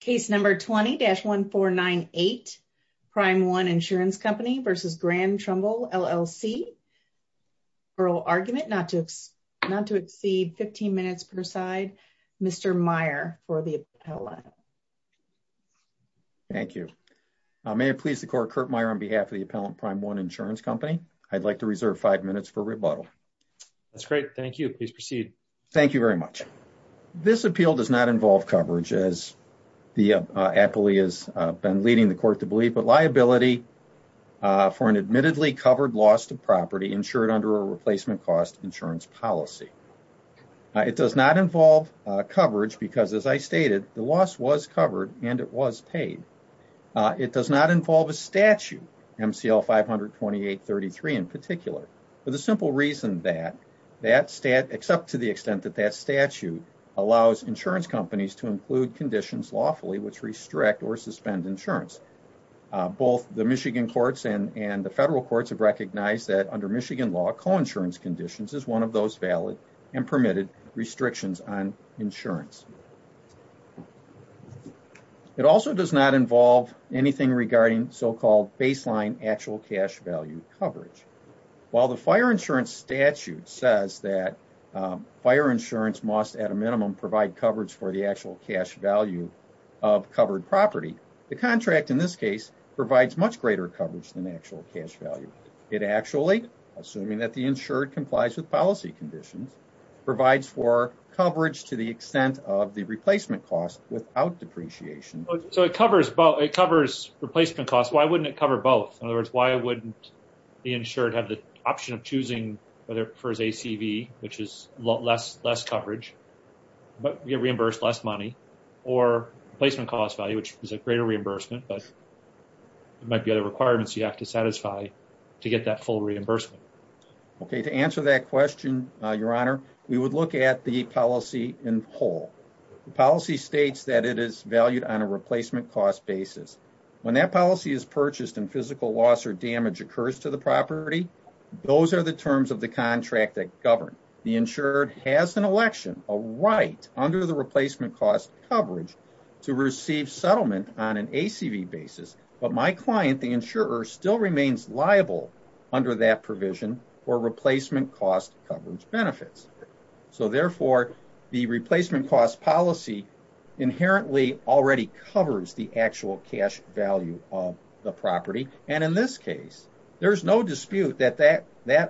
Case number 20-1498, Prime One Insurance Company v. Grand Trumbull LLC, oral argument not to exceed 15 minutes per side, Mr. Meyer for the appellate. Thank you. May it please the court, Kurt Meyer on behalf of the appellant, Prime One Insurance Company. I'd like to reserve five minutes for rebuttal. That's great. Thank you. Please proceed. Thank you very much. This appeal does not involve coverage as the appellee has been leading the court to believe, but liability for an admittedly covered loss to property insured under a replacement cost insurance policy. It does not involve coverage because as I stated, the loss was covered and it was paid. It does not involve a statute, MCL 528-33 in particular, for the simple reason that except to the extent that that statute allows insurance companies to include conditions lawfully which restrict or suspend insurance. Both the Michigan courts and the federal courts have recognized that under Michigan law, coinsurance conditions is one of those valid and permitted restrictions on insurance. It also does not involve anything regarding so-called baseline actual cash value coverage. While the fire insurance statute says that fire insurance must at a minimum provide coverage for the actual cash value of covered property, the contract in this case provides much greater coverage than the actual cash value. It actually, assuming that the insured complies with policy conditions, provides for coverage to the extent of the replacement cost without depreciation. So it covers both. It covers replacement costs. Why wouldn't it cover both? In other words, why wouldn't the insured have the option of choosing whether it prefers ACV, which is less coverage, but you get reimbursed less money, or replacement cost value, which is a greater reimbursement, but there might be other requirements you have to satisfy to get that full reimbursement. Okay. To answer that question, Your Honor, we would look at the policy in whole. The policy states that it is valued on a replacement cost basis. When that policy is purchased and physical loss or damage occurs to the property, those are the terms of the contract that govern. The insured has an election, a right, under the replacement cost coverage to receive settlement on an ACV basis, but my client, the insurer, still remains liable under that provision for replacement cost coverage benefits. So therefore, the replacement cost policy inherently already covers the actual cash value of the property, and in this case, there's no dispute that that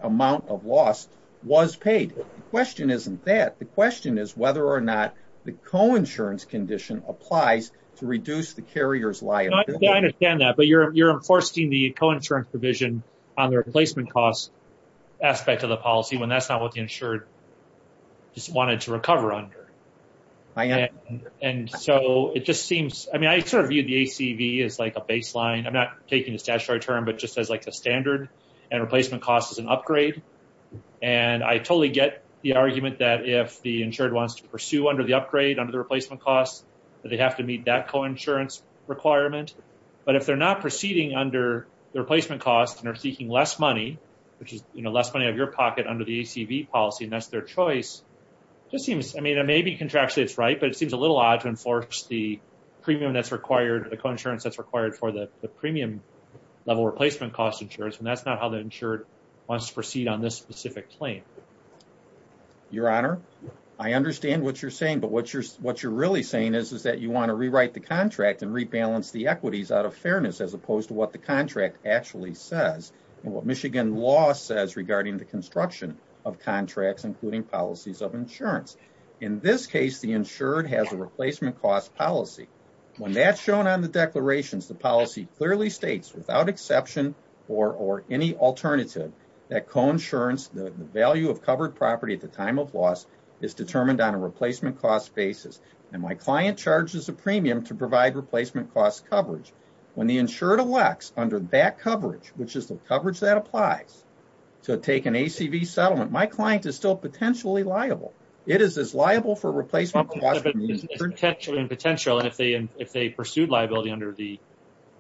amount of loss was paid. Question isn't that. The question is whether or not the coinsurance condition applies to reduce the carrier's liability. I understand that, but you're enforcing the coinsurance provision on the replacement cost aspect of the policy when that's not what the insured just wanted to recover under. And so it just seems, I mean, I sort of viewed the ACV as like a baseline. I'm not taking the statutory term, but just as like a standard and replacement cost is an upgrade. And I totally get the argument that if the insured wants to pursue under the upgrade under the replacement costs, that they have to meet that coinsurance requirement. But if they're not proceeding under the replacement costs and are seeking less money, which is, you know, less money of your pocket under the ACV policy, and that's their choice, just seems, I mean, maybe contractually it's right, but it seems a little odd to enforce the premium that's required, the coinsurance that's required for the premium level replacement cost insurance, and that's not how the insured wants to proceed on this specific claim. Your Honor, I understand what you're saying, but what you're really saying is, is that you want to rewrite the contract and rebalance the equities out of fairness, as opposed to what the contract actually says, and what Michigan law says regarding the construction of contracts, including policies of insurance. In this case, the insured has a replacement cost policy. When that's shown on the declarations, the policy clearly states, without exception or any alternative, that coinsurance, the value of covered property at the time of loss, is a premium to provide replacement cost coverage. When the insured elects, under that coverage, which is the coverage that applies, to take an ACV settlement, my client is still potentially liable. It is as liable for replacement cost as the insured. Potentially and potential, and if they pursued liability under the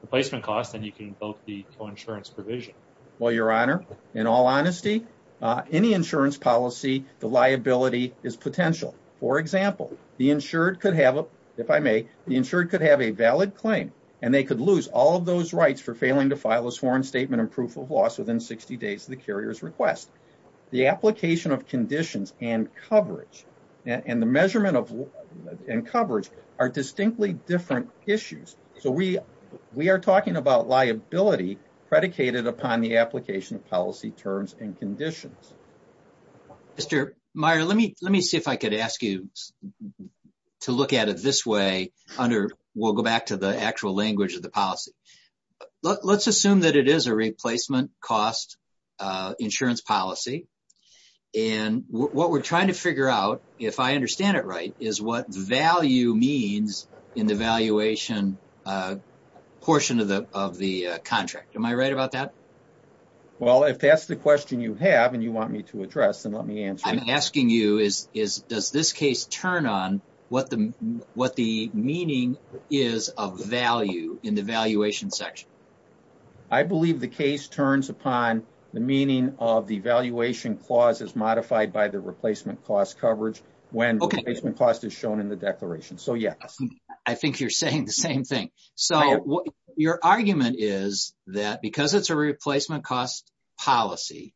replacement cost, then you can invoke the coinsurance provision. Well, Your Honor, in all honesty, any insurance policy, the liability is potential. For example, the insured could have, if I may, the insured could have a valid claim, and they could lose all of those rights for failing to file a sworn statement and proof of loss within 60 days of the carrier's request. The application of conditions and coverage, and the measurement and coverage, are distinctly different issues. So we are talking about liability predicated upon the application of policy terms and conditions. Mr. Meyer, let me see if I could ask you to look at it this way, under, we'll go back to the actual language of the policy. Let's assume that it is a replacement cost insurance policy, and what we're trying to figure out, if I understand it right, is what value means in the valuation portion of the contract. Am I right about that? Well, if that's the question you have and you want me to address, then let me answer it. I'm asking you, does this case turn on what the meaning is of value in the valuation section? I believe the case turns upon the meaning of the valuation clause as modified by the replacement cost coverage when the replacement cost is shown in the declaration. So yes. I think you're saying the same thing. So your argument is that because it's a replacement cost policy,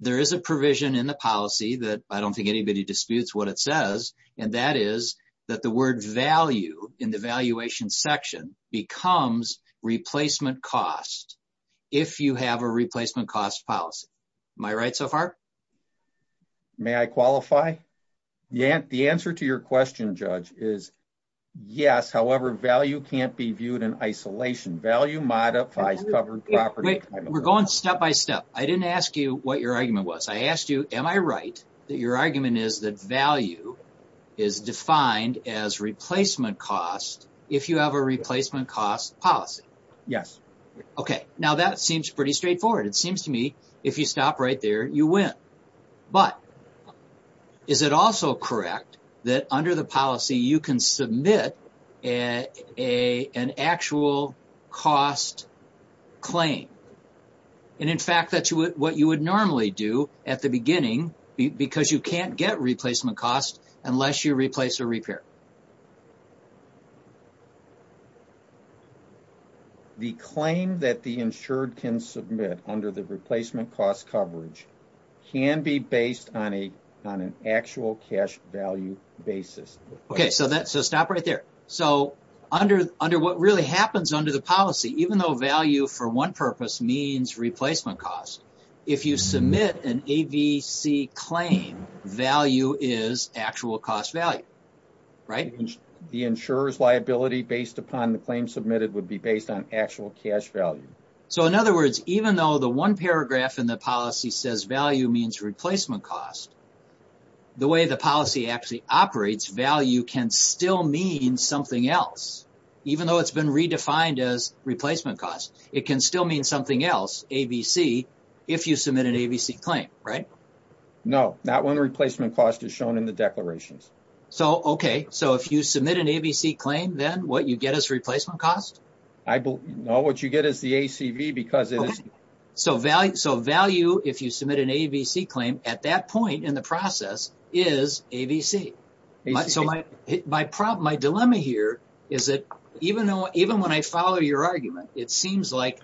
there is a provision in the policy that I don't think anybody disputes what it says, and that is that the word value in the valuation section becomes replacement cost if you have a replacement cost policy. Am I right so far? May I qualify? The answer to your question, Judge, is yes, however, value can't be viewed in isolation. Value modifies covered property. We're going step by step. I didn't ask you what your argument was. I asked you, am I right that your argument is that value is defined as replacement cost if you have a replacement cost policy? Yes. Okay. Now that seems pretty straightforward. It seems to me if you stop right there, you win. But is it also correct that under the policy, you can submit an actual cost claim? And in fact, that's what you would normally do at the beginning because you can't get replacement cost unless you replace or repair. The claim that the insured can submit under the replacement cost coverage can be based on an actual cash value basis. Okay. So stop right there. So under what really happens under the policy, even though value for one purpose means replacement cost, if you submit an AVC claim, value is actual cost value, right? The insurer's liability based upon the claim submitted would be based on actual cash value. So in other words, even though the one paragraph in the policy says value means replacement cost, the way the policy actually operates, value can still mean something else. Even though it's been redefined as replacement cost, it can still mean something else. So you can't submit an AVC if you submit an AVC claim, right? No. Not when the replacement cost is shown in the declarations. So okay. So if you submit an AVC claim, then what you get is replacement cost? No. What you get is the ACV because it is... So value, if you submit an AVC claim, at that point in the process is AVC. So my dilemma here is that even when I follow your argument, it seems like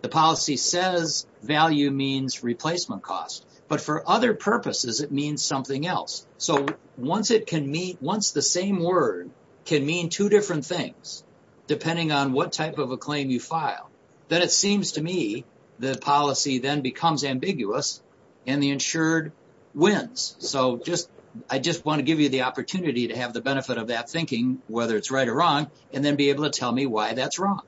the policy says value means replacement cost, but for other purposes, it means something else. So once the same word can mean two different things, depending on what type of a claim you file, then it seems to me the policy then becomes ambiguous and the insured wins. So I just want to give you the opportunity to have the benefit of that thinking, whether it's right or wrong, and then be able to tell me why that's wrong.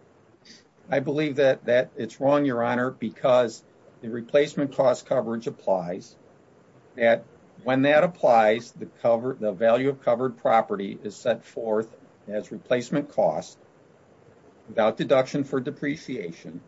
I believe that it's wrong, Your Honor, because the replacement cost coverage applies, that when that applies, the value of covered property is set forth as replacement cost without deduction for depreciation,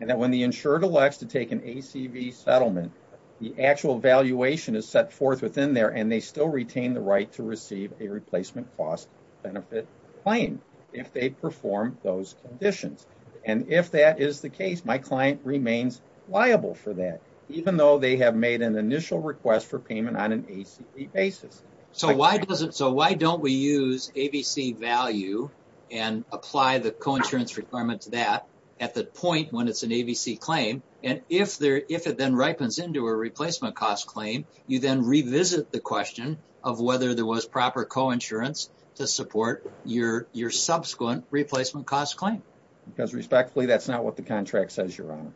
and that when the insured elects to take an ACV settlement, the actual valuation is set forth within there and they still retain the right to receive a replacement cost benefit claim if they perform those conditions. And if that is the case, my client remains liable for that, even though they have made an initial request for payment on an ACV basis. So why don't we use AVC value and apply the co-insurance requirement to that at the point when it's an AVC claim, and if it then ripens into a replacement cost claim, you then revisit the question of whether there was proper co-insurance to support your subsequent replacement cost claim. Because respectfully, that's not what the contract says, Your Honor.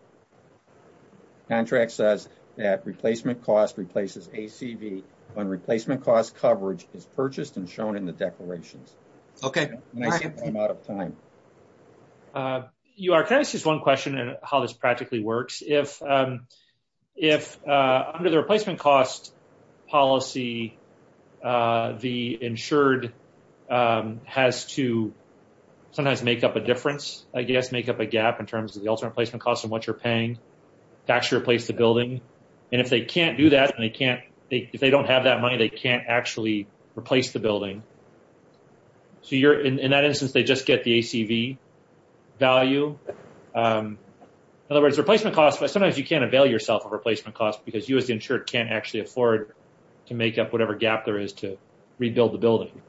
Contract says that replacement cost replaces ACV when replacement cost coverage is purchased and shown in the declarations. Okay. And I think I'm out of time. Your Honor, can I ask just one question on how this practically works? If under the replacement cost policy, the insured has to sometimes make up a difference, I guess, make up a gap in terms of the ultimate replacement cost and what you're paying to actually replace the building, and if they can't do that and they can't, if they don't have that money, they can't actually replace the building, so you're, in that instance, they just get the ACV value. In other words, replacement cost, sometimes you can't avail yourself of replacement cost because you as the insured can't actually afford to make up whatever gap there is to rebuild the building.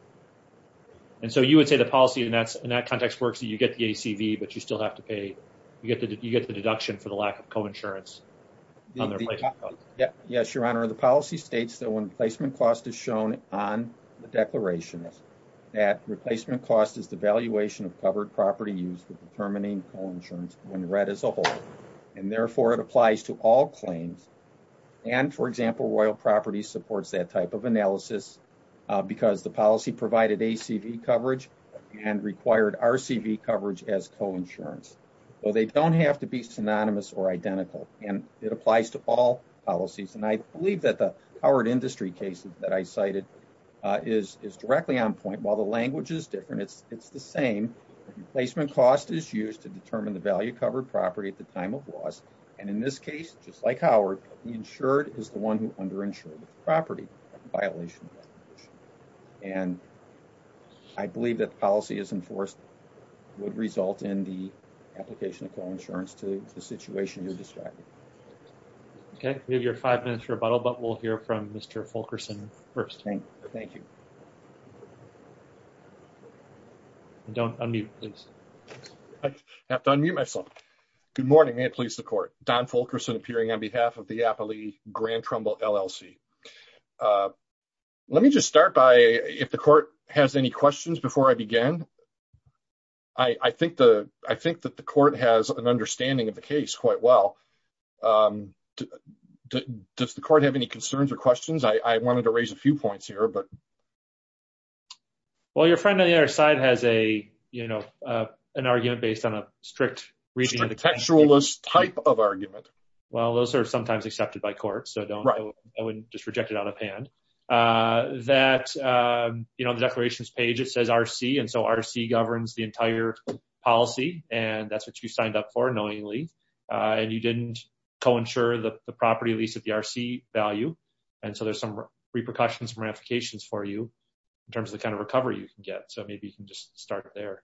And so you would say the policy in that context works, you get the ACV, but you still have to pay, you get the deduction for the lack of co-insurance on the replacement cost. Yes, Your Honor. The policy states that when replacement cost is shown on the declaration, that replacement cost is the valuation of covered property used for determining co-insurance when read as a whole, and therefore it applies to all claims, and, for example, Royal Properties supports that type of analysis because the policy provided ACV coverage and required RCV coverage as co-insurance, so they don't have to be synonymous or identical, and it applies to all policies, and I believe that the Howard Industry case that I cited is directly on point. While the language is different, it's the same. Replacement cost is used to determine the value of covered property at the time of loss, and in this case, just like Howard, the insured is the one who underinsured the property in violation of that. And I believe that the policy as enforced would result in the application of co-insurance to the situation you're describing. Okay. We have your five minutes rebuttal, but we'll hear from Mr. Fulkerson first. Thank you. Don't unmute, please. I have to unmute myself. Good morning. May it please the Court. Don Fulkerson, appearing on behalf of the Appley Grand Trumbull LLC. Let me just start by, if the Court has any questions before I begin, I think that the Court has an understanding of the case quite well. Does the Court have any concerns or questions? I wanted to raise a few points here, but... Well, your friend on the other side has an argument based on a strict reading of the case. Strict textualist type of argument. Well, those are sometimes accepted by court, so I wouldn't just reject it out of hand. That on the declarations page, it says RC, and so RC governs the entire policy, and that's what you signed up for, knowingly, and you didn't co-insure the property lease at the RC value, and so there's some repercussions, ramifications for you in terms of the kind of recovery you can get. So maybe you can just start there.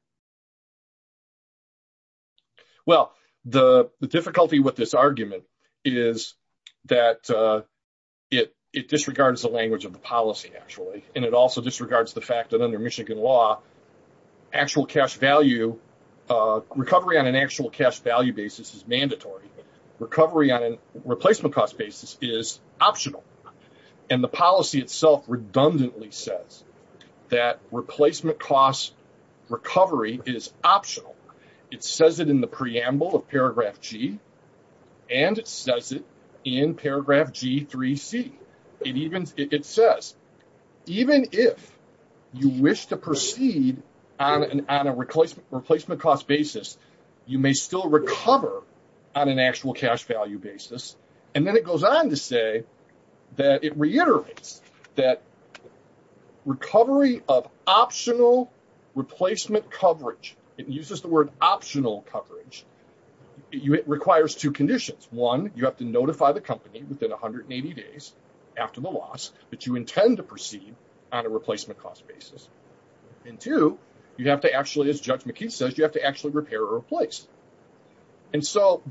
Well, the difficulty with this argument is that it disregards the language of the policy, actually, and it also disregards the fact that under Michigan law, actual cash value, recovery on an actual cash value basis is mandatory. Recovery on a replacement cost basis is optional, and the policy itself redundantly says that replacement cost recovery is optional. It says it in the preamble of paragraph G, and it says it in paragraph G3C. It says, even if you wish to proceed on a replacement cost basis, you may still recover on an actual cash value basis, and then it goes on to say that it reiterates that recovery of optional replacement coverage, it uses the word optional coverage, it requires two conditions. One, you have to notify the company within 180 days after the loss that you intend to proceed on a replacement cost basis, and two, you have to actually, as Judge McKee says, you have to actually repair or replace. And so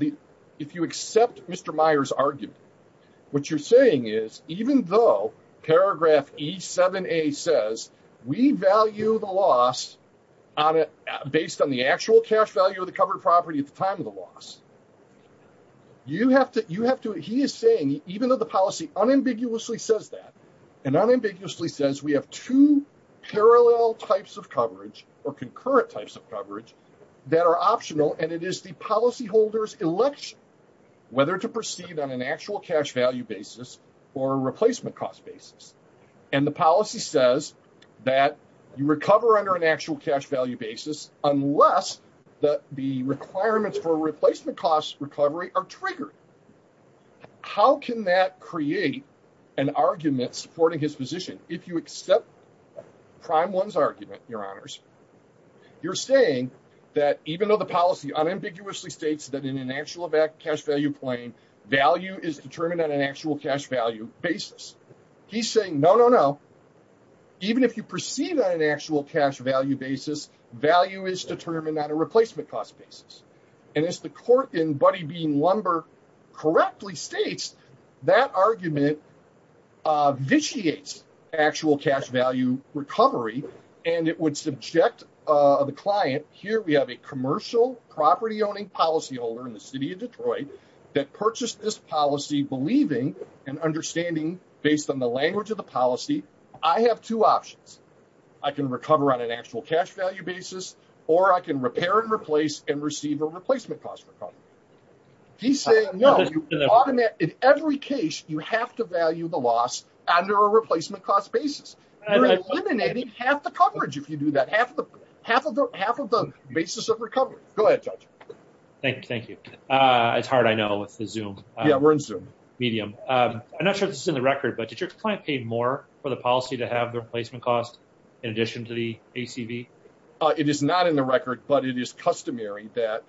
if you accept Mr. Meyer's argument, what you're saying is even though paragraph E7A says we value the loss based on the actual cash value of the covered property at the loss, you have to, he is saying even though the policy unambiguously says that, and unambiguously says we have two parallel types of coverage or concurrent types of coverage that are optional, and it is the policyholder's election whether to proceed on an actual cash value basis or a replacement cost basis. And the policy says that you recover under an actual cash value basis unless the requirements for a replacement cost recovery are triggered. How can that create an argument supporting his position? If you accept Prime 1's argument, your honors, you're saying that even though the policy unambiguously states that in an actual cash value plane, value is determined on an actual cash value basis. He's saying no, no, no, even if you proceed on an actual cash value basis, value is determined on a replacement cost basis. And as the court in Buddy Bean Lumber correctly states, that argument vitiates actual cash value recovery, and it would subject the client, here we have a commercial property-owning policyholder in the city of Detroit that purchased this policy believing and understanding based on the language of the policy, I have two options. I can recover on an actual cash value basis, or I can repair and replace and receive a replacement cost recovery. He's saying no, in every case, you have to value the loss under a replacement cost basis. You're eliminating half the coverage if you do that, half of the basis of recovery. Go ahead, Judge. Thank you, thank you. It's hard, I know, with the Zoom. Yeah, we're in Zoom. Medium. I'm not sure if this is in the record, but did your client pay more for the policy to have the replacement cost in addition to the ACV? It is not in the record, but it is customary that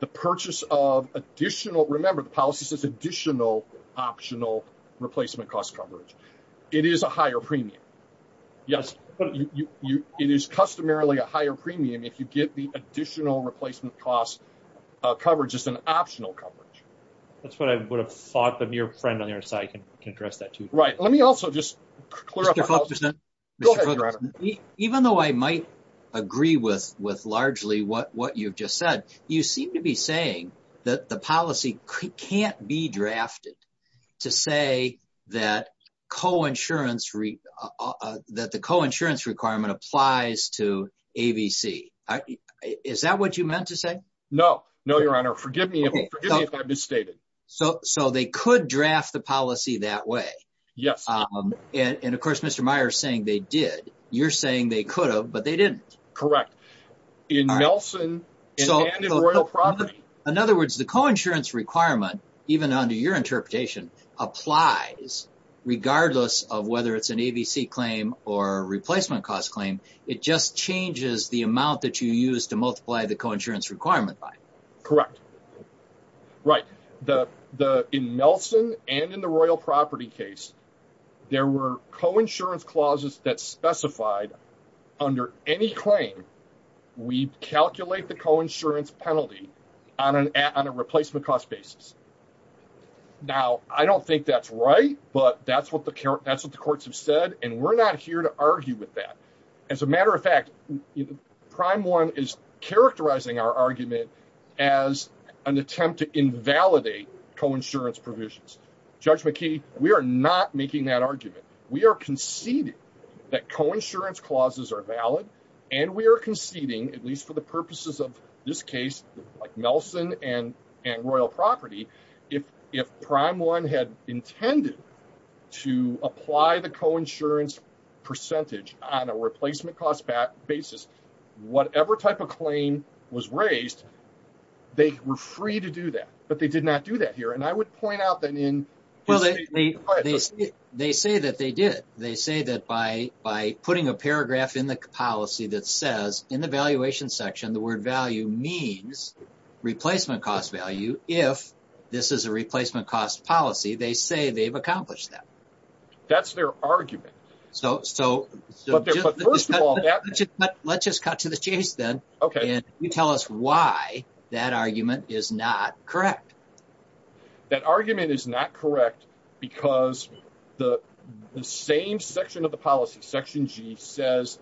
the purchase of additional, remember the policy says additional optional replacement cost coverage. It is a higher premium, yes, but it is customarily a higher premium if you get the additional replacement cost coverage as an optional coverage. That's what I would have thought, but your friend on the other side can address that too. Right. Let me also just clear up- Mr. Fulkerson. Go ahead, Your Honor. Even though I might agree with largely what you've just said, you seem to be saying that the policy can't be drafted to say that the coinsurance requirement applies to AVC. Is that what you meant to say? No. No, Your Honor. Forgive me if I misstated. So they could draft the policy that way? Yes. And of course, Mr. Meyer is saying they did. You're saying they could have, but they didn't. Correct. In Melson and in Royal Property- In other words, the coinsurance requirement, even under your interpretation, applies regardless of whether it's an AVC claim or a replacement cost claim. It just changes the amount that you use to multiply the coinsurance requirement by. Correct. Right. In Melson and in the Royal Property case, there were coinsurance clauses that specified under any claim, we calculate the coinsurance penalty on a replacement cost basis. Now, I don't think that's right, but that's what the courts have said, and we're not here to argue with that. As a matter of fact, Prime 1 is characterizing our argument as an attempt to invalidate coinsurance provisions. Judge McKee, we are not making that argument. We are conceding that coinsurance clauses are valid, and we are conceding, at least for the purposes of this case, like Melson and Royal Property, if Prime 1 had intended to apply the coinsurance percentage on a replacement cost basis, whatever type of claim was raised, they were free to do that, but they did not do that here. I would point out that in- They say that they did. They say that by putting a paragraph in the policy that says, in the valuation section, the word value means replacement cost value. If this is a replacement cost policy, they say they've accomplished that. That's their argument. So- But first of all- Let's just cut to the chase then, and you tell us why that argument is not correct. That argument is not correct because the same section of the policy, Section G, says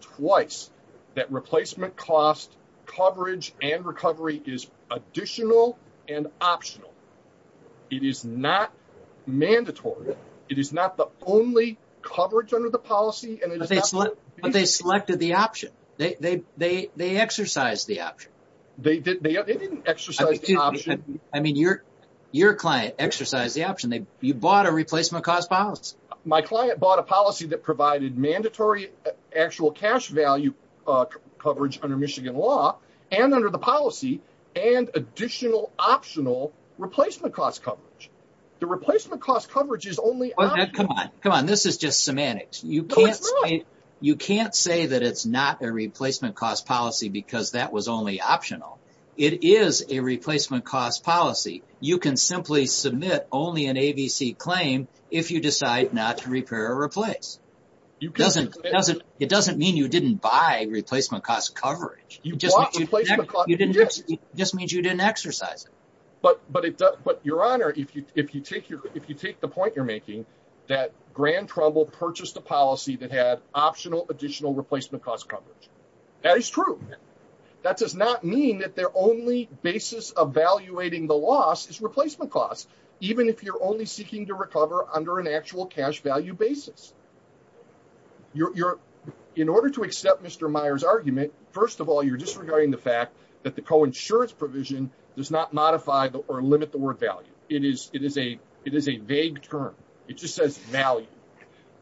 twice that replacement cost coverage and recovery is additional and optional. It is not mandatory. It is not the only coverage under the policy, and it is not- But they selected the option. They exercised the option. They didn't exercise the option. I mean, your client exercised the option. You bought a replacement cost policy. My client bought a policy that provided mandatory actual cash value coverage under Michigan law and under the policy and additional optional replacement cost coverage. The replacement cost coverage is only optional. Come on. Come on. This is just semantics. No, it's not. You can't say that it's not a replacement cost policy because that was only optional. It is a replacement cost policy. You can simply submit only an ABC claim if you decide not to repair or replace. It doesn't mean you didn't buy replacement cost coverage. You bought replacement cost- It just means you didn't exercise it. But Your Honor, if you take the point you're making that Grand Trouble purchased a policy that had optional additional replacement cost coverage, that is true. That does not mean that their only basis of valuating the loss is replacement cost, even if you're only seeking to recover under an actual cash value basis. In order to accept Mr. Meyer's argument, first of all, you're disregarding the fact that the coinsurance provision does not modify or limit the word value. It is a vague term. It just says value.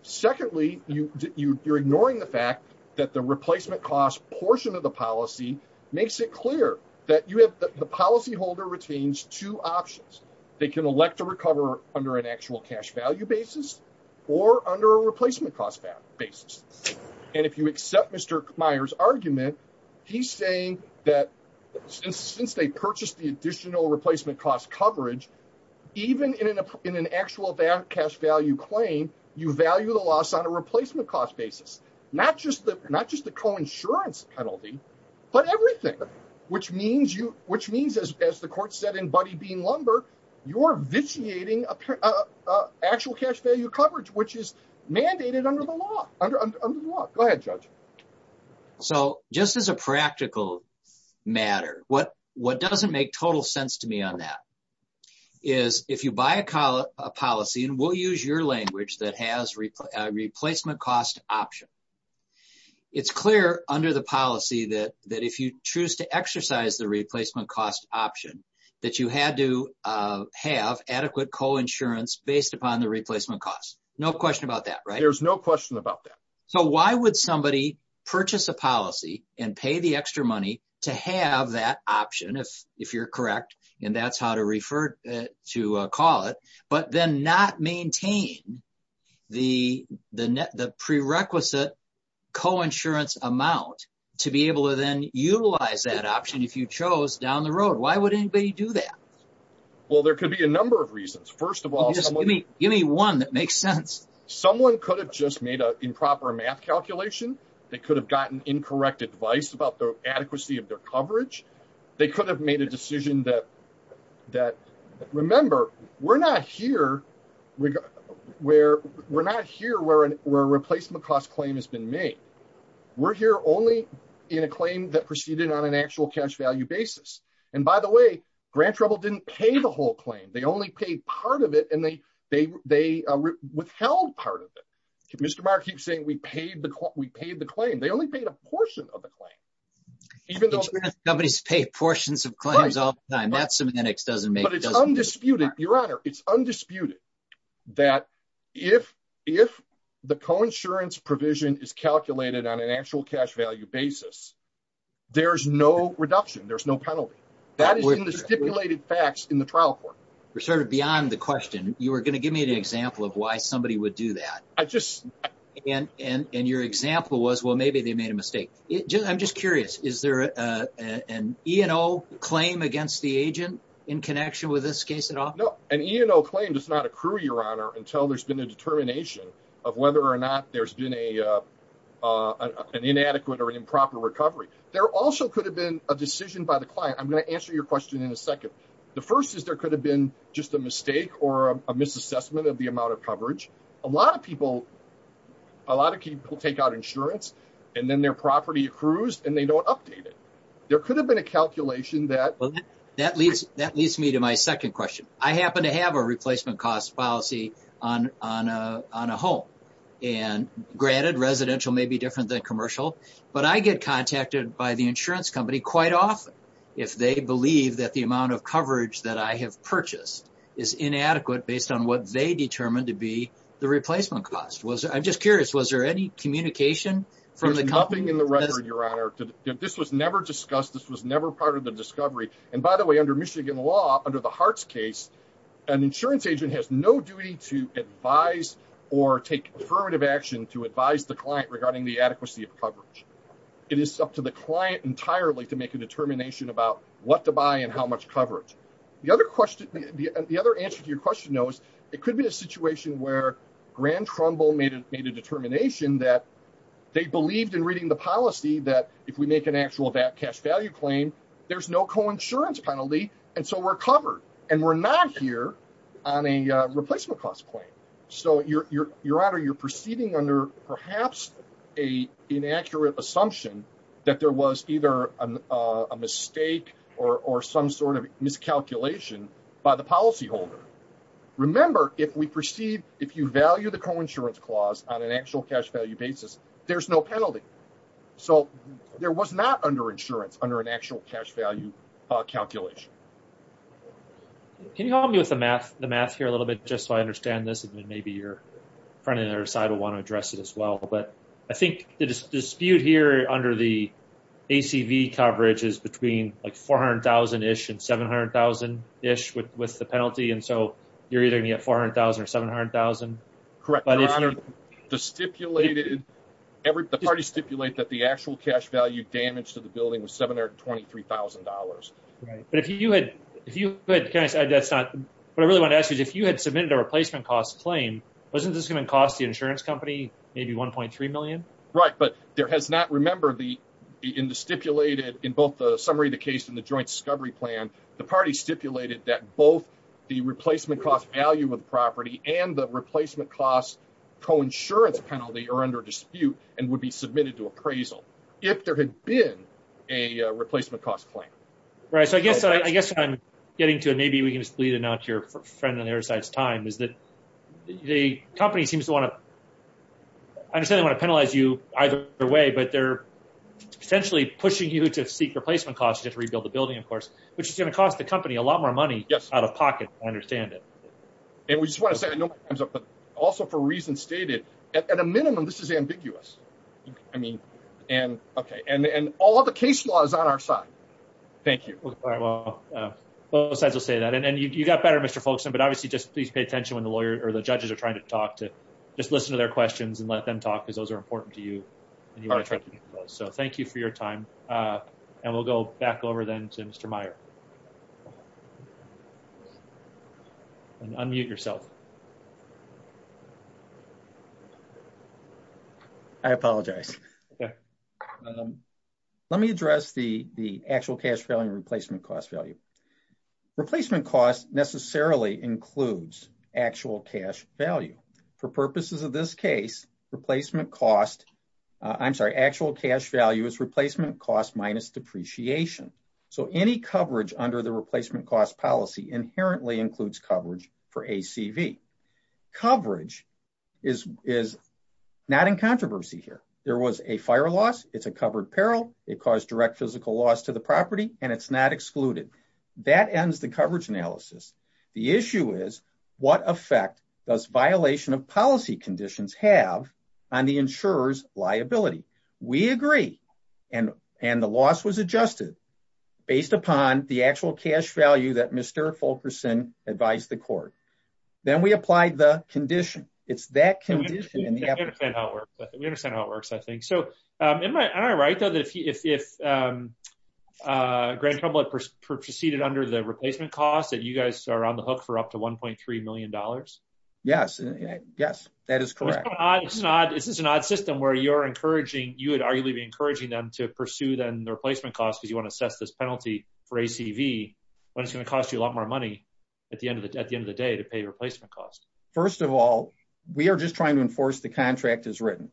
Secondly, you're ignoring the fact that the replacement cost portion of the policy makes it clear that the policyholder retains two options. They can elect to recover under an actual cash value basis or under a replacement cost basis. And if you accept Mr. Meyer's argument, he's saying that since they purchased the additional replacement cost coverage, even in an actual cash value claim, you value the loss on a replacement cost basis, not just the coinsurance penalty, but everything, which means, as the court said in Buddy Bean Lumber, you're vitiating actual cash value coverage, which is mandated under the law. Go ahead, Judge. So, just as a practical matter, what doesn't make total sense to me on that is if you buy a policy, and we'll use your language that has a replacement cost option, it's clear under the policy that if you choose to exercise the replacement cost option, that you had to have adequate coinsurance based upon the replacement cost. No question about that, right? There's no question about that. So, why would somebody purchase a policy and pay the extra money to have that option, if you're correct, and that's how to refer to call it, but then not maintain the prerequisite coinsurance amount to be able to then utilize that option if you chose down the road? Why would anybody do that? Well, there could be a number of reasons. First of all, just give me one that makes sense. Someone could have just made an improper math calculation. They could have gotten incorrect advice about the adequacy of their coverage. They could have made a decision that, remember, we're not here where a replacement cost claim has been made. We're here only in a claim that proceeded on an actual cash value basis. And by the way, Grand Trouble didn't pay the whole claim. They only paid part of it, and they withheld part of it. Mr. Barr keeps saying, we paid the claim. They only paid a portion of the claim. Companies pay portions of claims all the time. That's something that doesn't make sense. Your Honor, it's undisputed that if the coinsurance provision is calculated on an actual cash value basis, there's no reduction. There's no penalty. That is in the stipulated facts in the trial court. You're sort of beyond the question. You were going to give me an example of why somebody would do that. And your example was, well, maybe they made a mistake. I'm just curious. Is there an E&O claim against the agent in connection with this case at all? No, an E&O claim does not accrue, Your Honor, until there's been a determination of whether or not there's been an inadequate or improper recovery. There also could have been a decision by the client. I'm going to answer your question in a second. The first is there could have been just a mistake or a misassessment of the amount of coverage. A lot of people take out insurance, and then their property accrues, and they don't update it. There could have been a calculation that... That leads me to my second question. I happen to have a replacement cost policy on a home. And granted, residential may be different than commercial, but I get contacted by the if they believe that the amount of coverage that I have purchased is inadequate based on what they determined to be the replacement cost. I'm just curious. Was there any communication from the company? There's nothing in the record, Your Honor. This was never discussed. This was never part of the discovery. And by the way, under Michigan law, under the Hart's case, an insurance agent has no of coverage. It is up to the client entirely to make a determination about what to buy and how much coverage. The other answer to your question, though, is it could be a situation where Grand Trumbull made a determination that they believed in reading the policy that if we make an actual cash value claim, there's no coinsurance penalty, and so we're covered. And we're not here on a replacement cost claim. So Your Honor, you're proceeding under perhaps an inaccurate assumption that there was either a mistake or some sort of miscalculation by the policyholder. Remember, if we proceed, if you value the coinsurance clause on an actual cash value basis, there's no penalty. So there was not under insurance under an actual cash value calculation. Can you help me with the math here a little bit, just so I understand this, and then maybe your friend on the other side will want to address it as well. But I think the dispute here under the ACV coverage is between like 400,000-ish and 700,000-ish with the penalty. And so you're either going to get 400,000 or 700,000. Correct, Your Honor. The parties stipulate that the actual cash value damage to the building was $723,000. Right. But if you had submitted a replacement cost claim, wasn't this going to cost the insurance company maybe $1.3 million? Right. But remember, in the summary of the case in the joint discovery plan, the parties stipulated that both the replacement cost value of the property and the replacement cost coinsurance penalty are under dispute and would be submitted to appraisal if there had been a replacement cost claim. Right. So I guess what I'm getting to, and maybe we can just leave it now to your friend on the other side's time, is that the company seems to want to, I understand they want to penalize you either way, but they're essentially pushing you to seek replacement costs, just to rebuild the building, of course, which is going to cost the company a lot more money out of pocket. I understand it. And we just want to say, I know my time's up, but also for reasons stated, at a minimum, this is ambiguous. I mean, and, okay, and all of the case law is on our side. Thank you. Well, both sides will say that, and you got better, Mr. Folkston, but obviously just please pay attention when the lawyer or the judges are trying to talk to, just listen to their questions and let them talk, because those are important to you. So thank you for your time. And we'll go back over then to Mr. Meyer. And unmute yourself. I apologize. Let me address the actual cash value and replacement cost value. Replacement cost necessarily includes actual cash value. For purposes of this case, replacement cost, I'm sorry, actual cash value is replacement cost minus depreciation. So any coverage under the replacement cost policy inherently includes coverage for ACV. Coverage is not in controversy here. There was a fire loss. It's a covered peril. It caused direct physical loss to the property, and it's not excluded. That ends the coverage analysis. The issue is what effect does violation of policy conditions have on the insurer's liability? We agree, and the loss was adjusted based upon the actual cash value that Mr. Folkston advised the court. Then we applied the condition. It's that condition. We understand how it works, I think. So am I right, though, that if Grand Trouble had proceeded under the replacement cost that you guys are on the hook for up to $1.3 million? Yes, yes, that is correct. This is an odd system where you would arguably be encouraging them to pursue then the replacement cost because you want to assess this penalty for ACV, but it's going to cost you a lot more money at the end of the day to pay replacement cost. First of all, we are just trying to enforce the contract as written.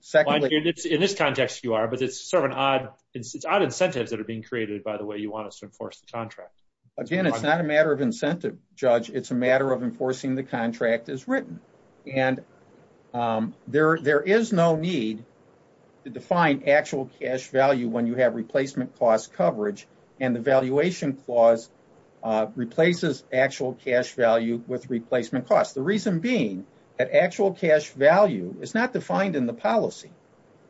In this context, you are, but it's odd incentives that are being created by the way you want us to enforce the contract. Again, it's not a matter of incentive, Judge. It's a matter of enforcing the contract as written. And there is no need to define actual cash value when you have replacement cost coverage and the valuation clause replaces actual cash value with replacement cost. The reason being that actual cash value is not defined in the policy.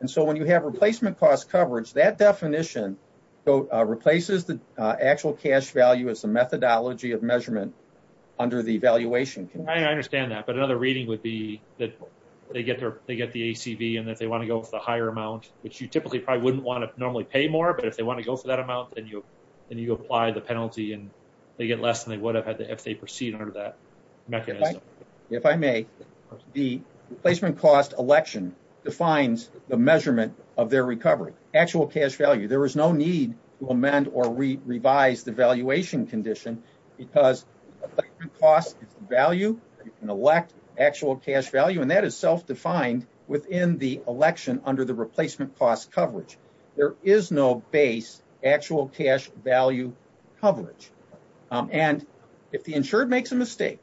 And so when you have replacement cost coverage, that definition replaces the actual cash value as a methodology of measurement under the valuation. I understand that, but another reading would be that they get the ACV and that they want to go for the higher amount, which you typically probably wouldn't want to normally pay more, but if they want to go for that amount, then you apply the penalty and they get less than they would have had if they proceed under that mechanism. If I may, the replacement cost election defines the measurement of their recovery, actual cash value. There is no need to amend or revise the valuation condition because replacement cost is the value and you can elect actual cash value and that is self-defined within the election under the replacement cost coverage. There is no base actual cash value coverage. And if the insured makes a mistake,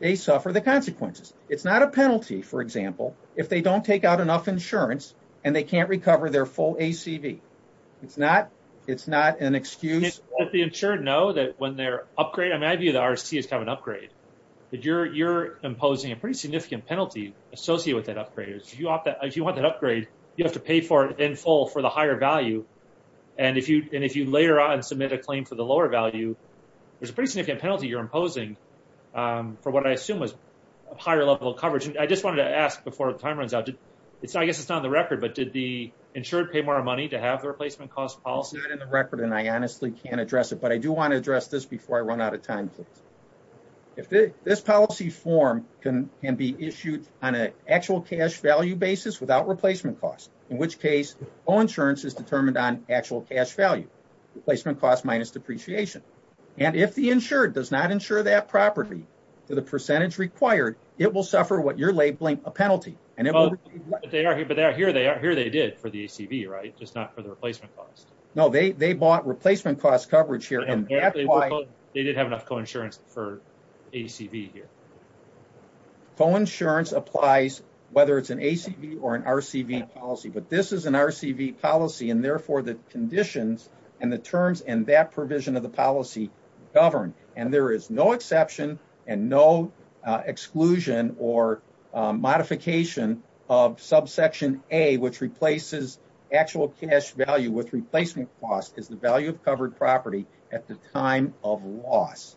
they suffer the consequences. It's not a penalty, for example, if they don't take out enough insurance and they can't recover their full ACV. It's not an excuse. Let the insured know that when they upgrade, I mean, I view the RSC as kind of an upgrade. You're imposing a pretty significant penalty associated with that upgrade. If you want that upgrade, you have to pay for it in full for the higher value. And if you later on submit a claim for the lower value, there's a pretty significant penalty you're imposing for what I assume is a higher level of coverage. I just wanted to ask before the time runs out, I guess it's not on the record, but did the insured pay more money to have the replacement cost policy? It's not in the record and I honestly can't address it, but I do want to address this before I run out of time, please. If this policy form can be issued on an actual cash value basis without replacement costs, in which case, all insurance is determined on actual cash value, replacement cost minus depreciation. And if the insured does not insure that property to the percentage required, it will suffer what you're labeling a penalty. But here they did for the ACV, right? Just not for the replacement cost. No, they bought replacement cost coverage here. They did have enough coinsurance for ACV here. Coinsurance applies whether it's an ACV or an RCV policy, but this is an RCV policy and therefore the conditions and the terms and that provision of the policy govern. And there is no exception and no exclusion or modification of subsection A, which replaces actual cash value with replacement cost is the value of covered property at the time of loss.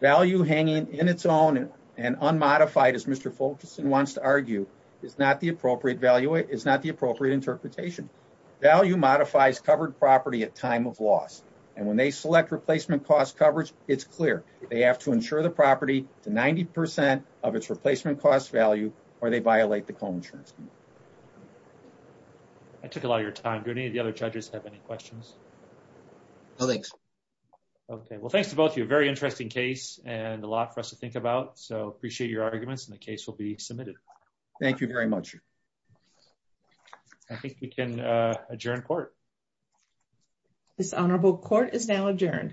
Value hanging in its own and unmodified, as Mr. Fulkerson wants to argue, is not the appropriate value, is not the appropriate interpretation. Value modifies covered property at time of loss. And when they select replacement cost coverage, it's clear. They have to insure the property to 90% of its replacement cost value or they violate the coinsurance. I took a lot of your time. Do any of the other judges have any questions? No, thanks. Okay. Well, thanks to both of you. Very interesting case and a lot for us to think about. So appreciate your arguments and the case will be submitted. Thank you very much. I think we can adjourn court. This honorable court is now adjourned.